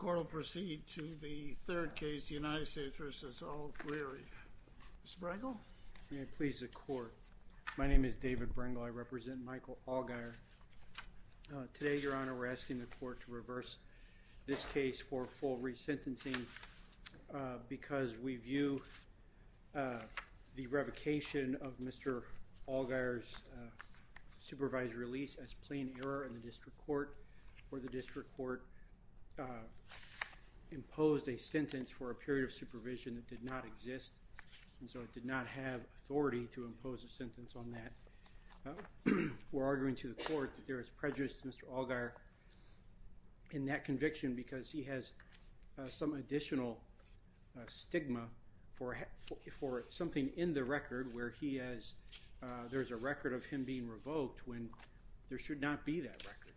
Today, Your Honor, we're asking the Court to reverse this case for full re-sentencing because we view the revocation of Mr. Allgire's supervised release as plain error in the District Court imposed a sentence for a period of supervision that did not exist and so it did not have authority to impose a sentence on that. We're arguing to the Court that there is prejudice to Mr. Allgire in that conviction because he has some additional stigma for something in the record where he has, there's a record of him being revoked when there should not be that record.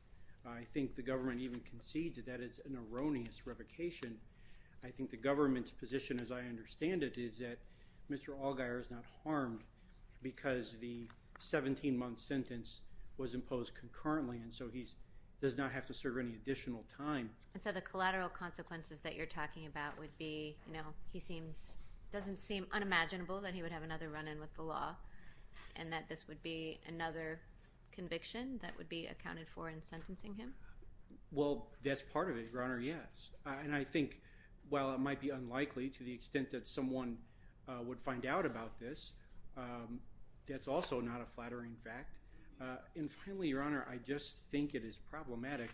I think the government even concedes that that is an erroneous revocation. I think the government's position, as I understand it, is that Mr. Allgire is not harmed because the 17-month sentence was imposed concurrently and so he does not have to serve any additional time. And so the collateral consequences that you're talking about would be, you know, he doesn't seem unimaginable that he would have another run-in with the law and that this would be another conviction that would be accounted for in sentencing him? Well, that's part of it, Your Honor, yes. And I think while it might be unlikely to the extent that someone would find out about this, that's also not a flattering fact. And finally, Your Honor, I just think it is problematic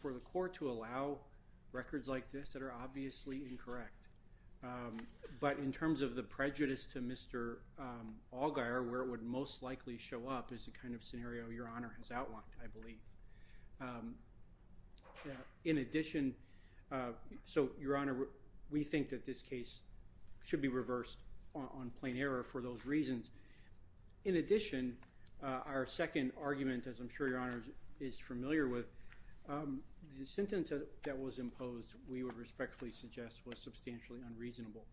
for the Court to allow records like this that are obviously incorrect. But in terms of the prejudice to Mr. Allgire, where it would most likely show up is the kind of scenario Your Honor has outlined, I believe. In addition, so Your Honor, we think that this case should be reversed on plain error for those reasons. In addition, our second argument, as I'm sure Your Honor is familiar with, the sentence that was imposed, we would respectfully suggest, was substantially unreasonable.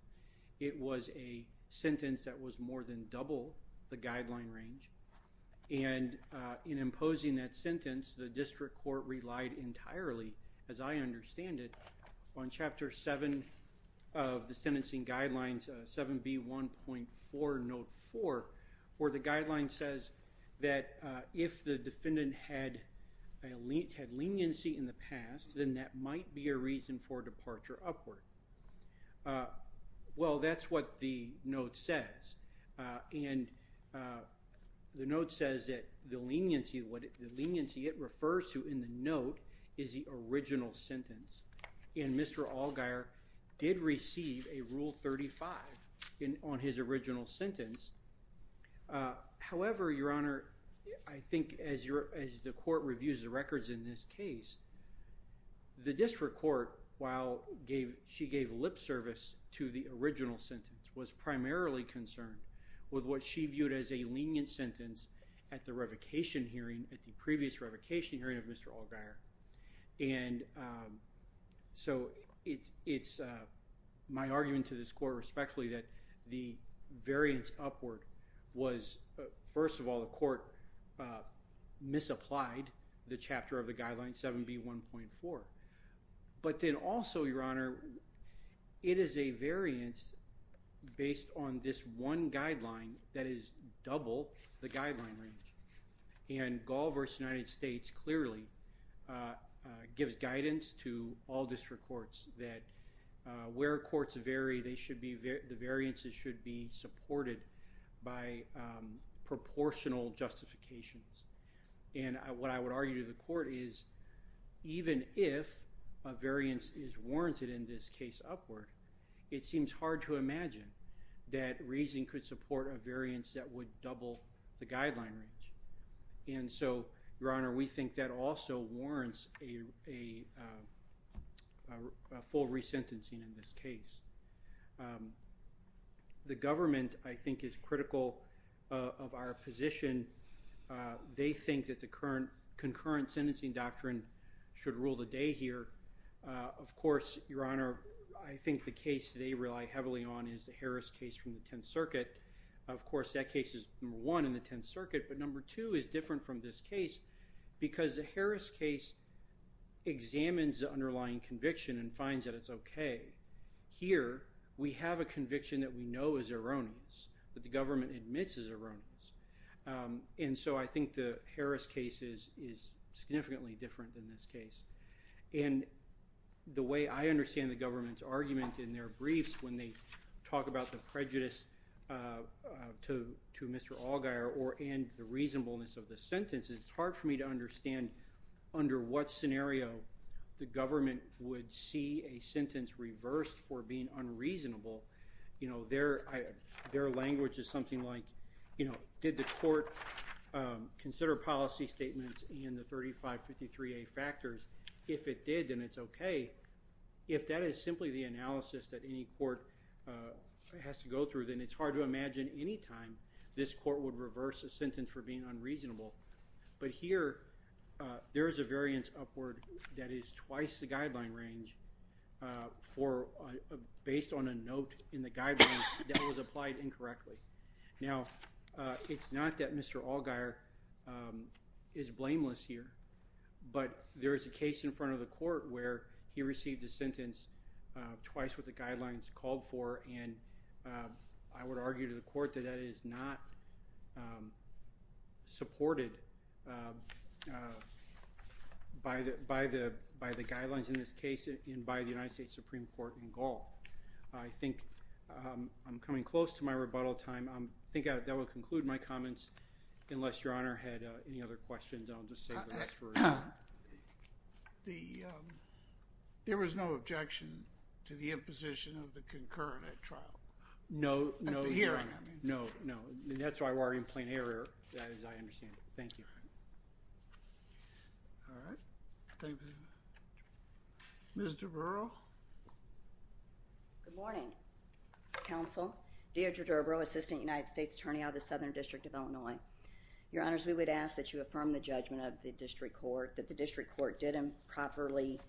It was a sentence that was more than double the guideline range, and in imposing that sentence, the District Court relied entirely, as I understand it, on Chapter 7 of the Sentencing Guidelines, 7B1.4, Note 4, where the guideline says that if the defendant had leniency in the past, then that might be a reason for departure upward. Well, that's what the note says, and the note says that the leniency, the leniency it refers to in the note is the original sentence, and Mr. Allgire did receive a Rule 35 on his original sentence. However, Your Honor, I think as the Court reviews the records in this case, the District Court, while she gave lip service to the original sentence, was primarily concerned with what she viewed as a lenient sentence at the revocation hearing, at the previous revocation hearing of Mr. Allgire. And so, it's my argument to this Court respectfully that the variance upward was, first of all, the Court misapplied the chapter of the Guidelines, 7B1.4. But then also, Your Honor, it is a variance based on this one guideline that is double the guideline range, and Gall v. United States clearly gives guidance to all District Courts that where courts vary, they should be, the variances should be supported by proportional justifications. And what I would argue to the Court is even if a variance is warranted in this case upward, it seems hard to imagine that reasoning could support a variance that would double the guideline range. And so, Your Honor, we think that also warrants a full resentencing in this case. The government, I think, is critical of our position. They think that the concurrent sentencing doctrine should rule the day here. Of course, Your Honor, I think the case they rely heavily on is the Harris case from the Tenth Circuit. Of course, that case is number one in the Tenth Circuit, but number two is different from this case because the Harris case examines the underlying conviction and finds that it's okay. Here, we have a conviction that we know is erroneous, that the government admits is erroneous. And so, I think the Harris case is significantly different than this case. And the way I understand the government's argument in their briefs when they talk about the prejudice to Mr. Allgaier and the reasonableness of the sentence, it's hard for me to understand under what scenario the government would see a sentence reversed for being unreasonable. Their language is something like, you know, did the court consider policy statements in the 3553A factors? If it did, then it's okay. If that is simply the analysis that any court has to go through, then it's hard to imagine any time this court would reverse a sentence for being unreasonable. But here, there is a variance upward that is twice the guideline range based on a note in the guidelines that was applied incorrectly. Now, it's not that Mr. Allgaier is blameless here, but there is a case in front of the court where he received a sentence twice what the guidelines called for, and I would argue to the court that that is not supported by the guidelines in this case and by the United States Supreme Court in Gaul. I think I'm coming close to my rebuttal time. I think that will conclude my comments unless Your Honor had any other questions. I'll just save the rest for later. There was no objection to the imposition of the concurrent at trial? No, no, Your Honor. At the hearing, I mean. No, no. That's why we're already in plain error, as I understand it. Thank you. All right. Thank you. Mr. Burrell? Good morning, counsel. Deirdre Durbrow, Assistant United States Attorney out of the Southern District of Illinois. Your Honors, we would ask that you affirm the judgment of the district court that the district court didn't properly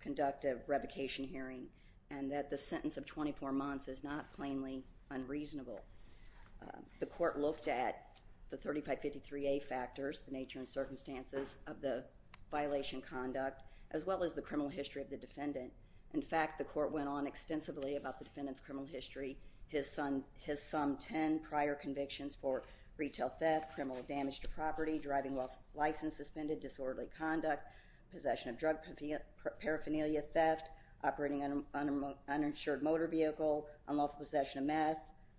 conduct a revocation hearing and that the sentence of 24 months is not plainly unreasonable. The court looked at the 3553A factors, the nature and circumstances of the violation in conduct, as well as the criminal history of the defendant. In fact, the court went on extensively about the defendant's criminal history, his some 10 prior convictions for retail theft, criminal damage to property, driving while licensed, suspended disorderly conduct, possession of drug paraphernalia, theft, operating an uninsured motor vehicle, unlawful possession of meth,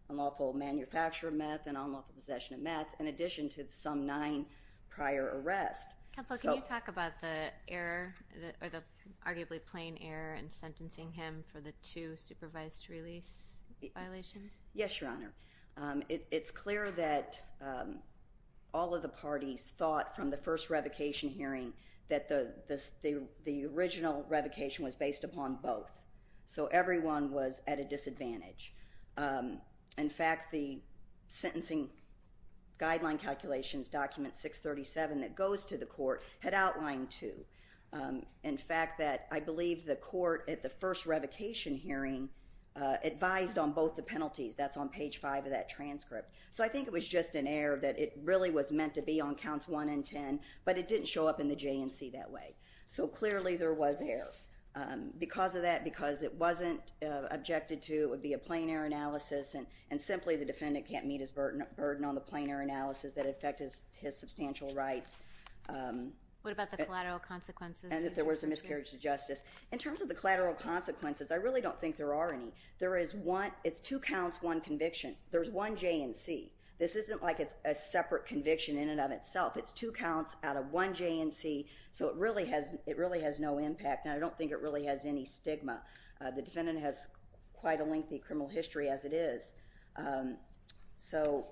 unlawful manufacture of meth, and unlawful possession of meth, in addition to some nine prior arrests. Counsel, can you talk about the error, or the arguably plain error in sentencing him for the two supervised release violations? Yes, Your Honor. It's clear that all of the parties thought from the first revocation hearing that the original revocation was based upon both. So everyone was at a disadvantage. In fact, the sentencing guideline calculations, document 637, that goes to the court had outlined two. In fact, that I believe the court, at the first revocation hearing, advised on both the penalties. That's on page 5 of that transcript. So I think it was just an error that it really was meant to be on counts 1 and 10, but it didn't show up in the J&C that way. So clearly there was error. Because of that, because it wasn't objected to, it would be a plain error analysis, and simply the defendant can't meet his burden on the plain error analysis that affected his substantial rights. What about the collateral consequences? And if there was a miscarriage of justice. In terms of the collateral consequences, I really don't think there are any. There is one, it's two counts, one conviction. There's one J&C. This isn't like it's a separate conviction in and of itself. It's two counts out of one J&C, so it really has no impact. And I don't think it really has any stigma. The defendant has quite a lengthy criminal history as it is. So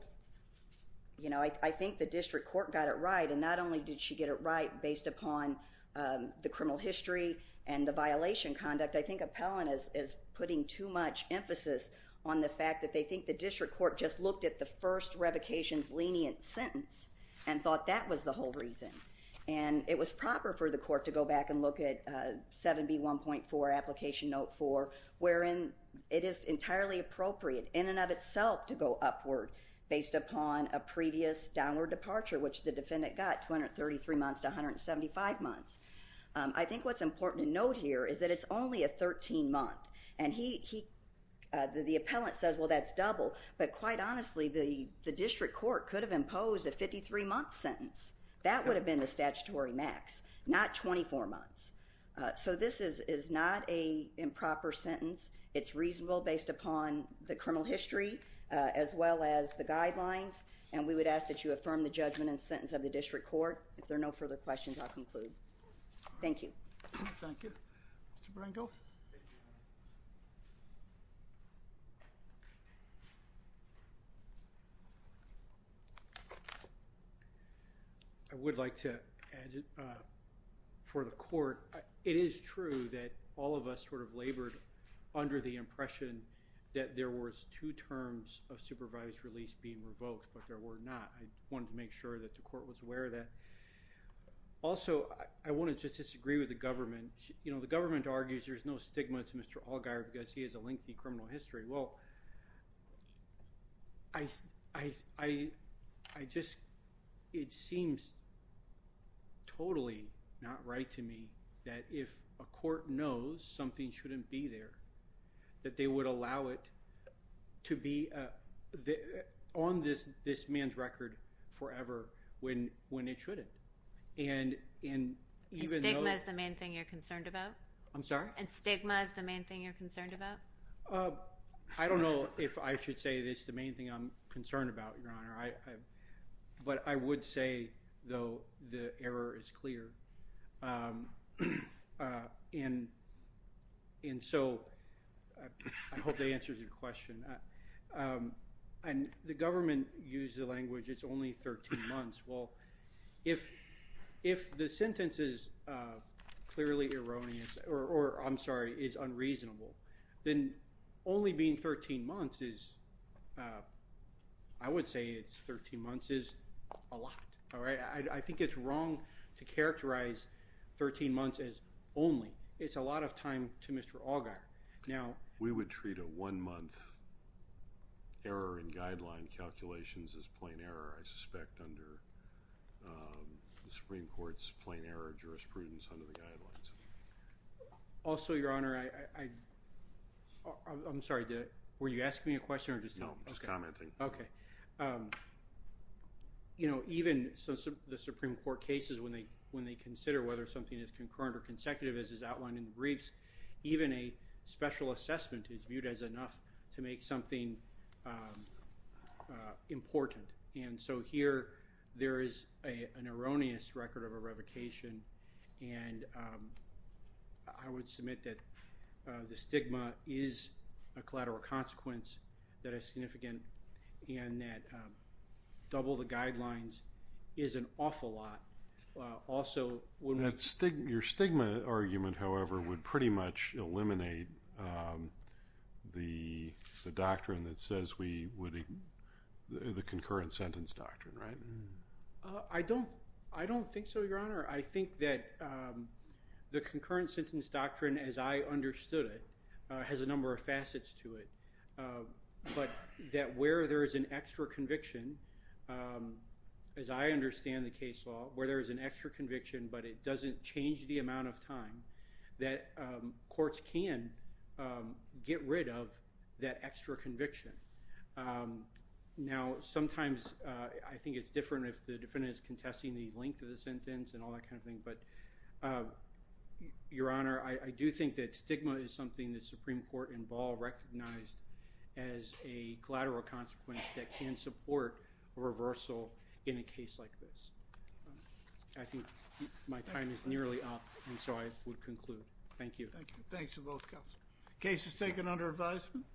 I think the district court got it right, and not only did she get it right based upon the criminal history and the violation conduct, I think Appellant is putting too much emphasis on the fact that they think the district court just looked at the first revocation's lenient sentence and thought that was the whole reason. And it was proper for the court to go back and look at 7B1.4, Application Note 4, wherein it is entirely appropriate in and of itself to go upward based upon a previous downward departure which the defendant got, 233 months to 175 months. I think what's important to note here is that it's only a 13 month. And he, the Appellant says well that's double, but quite honestly the district court could have imposed a 53 month sentence. That would have been the statutory max, not 24 months. So this is not an improper sentence. It's reasonable based upon the criminal history as well as the guidelines, and we would ask that you affirm the judgment and sentence of the district court. If there are no further questions, I'll conclude. Thank you. Thank you. Mr. Brinkle? I would like to add for the court, it is true that all of us sort of labored under the impression that there was two terms of supervised release being revoked, but there were not. I wanted to make sure that the court was aware of that. Also I want to just disagree with the government. The government argues there's no stigma to Mr. Allgaier because he has a lengthy criminal history. Well, I just, it seems totally not right to me that if a court knows something shouldn't be there, that they would allow it to be on this man's record forever when it shouldn't. And stigma is the main thing you're concerned about? I'm sorry? And stigma is the main thing you're concerned about? I don't know if I should say this, the main thing I'm concerned about, Your Honor, but I would say, though, the error is clear, and so I hope that answers your question. The government used the language, it's only 13 months. Well, if the sentence is clearly erroneous, or I'm sorry, is unreasonable, then only being 13 months is, I would say it's 13 months is a lot. I think it's wrong to characterize 13 months as only. It's a lot of time to Mr. Allgaier. We would treat a one-month error in guideline calculations as plain error, I suspect, under the Supreme Court's plain error jurisprudence under the guidelines. Also, Your Honor, I'm sorry, were you asking me a question or just commenting? No, just commenting. You know, even the Supreme Court cases, when they consider whether something is concurrent or consecutive, as is outlined in the briefs, even a special assessment is viewed as enough to make something important, and so here there is an erroneous record of a revocation, and I would submit that the stigma is a collateral consequence that is significant and that double the guidelines is an awful lot. Also, when we... That stigma, your stigma argument, however, would pretty much eliminate the doctrine that says we would, the concurrent sentence doctrine, right? I don't, I don't think so, Your Honor. I think that the concurrent sentence doctrine, as I understood it, has a number of facets to it, but that where there is an extra conviction, as I understand the case law, where there is an extra conviction but it doesn't change the amount of time, that courts can get rid of that extra conviction. Now, sometimes I think it's different if the defendant is contesting the length of the sentence and all that kind of thing, but, Your Honor, I do think that stigma is something the Supreme Court in Ball recognized as a collateral consequence that can support a reversal in a case like this. I think my time is nearly up, and so I would conclude. Thank you. Thank you. Thanks to both counsel. Case is taken under advisement.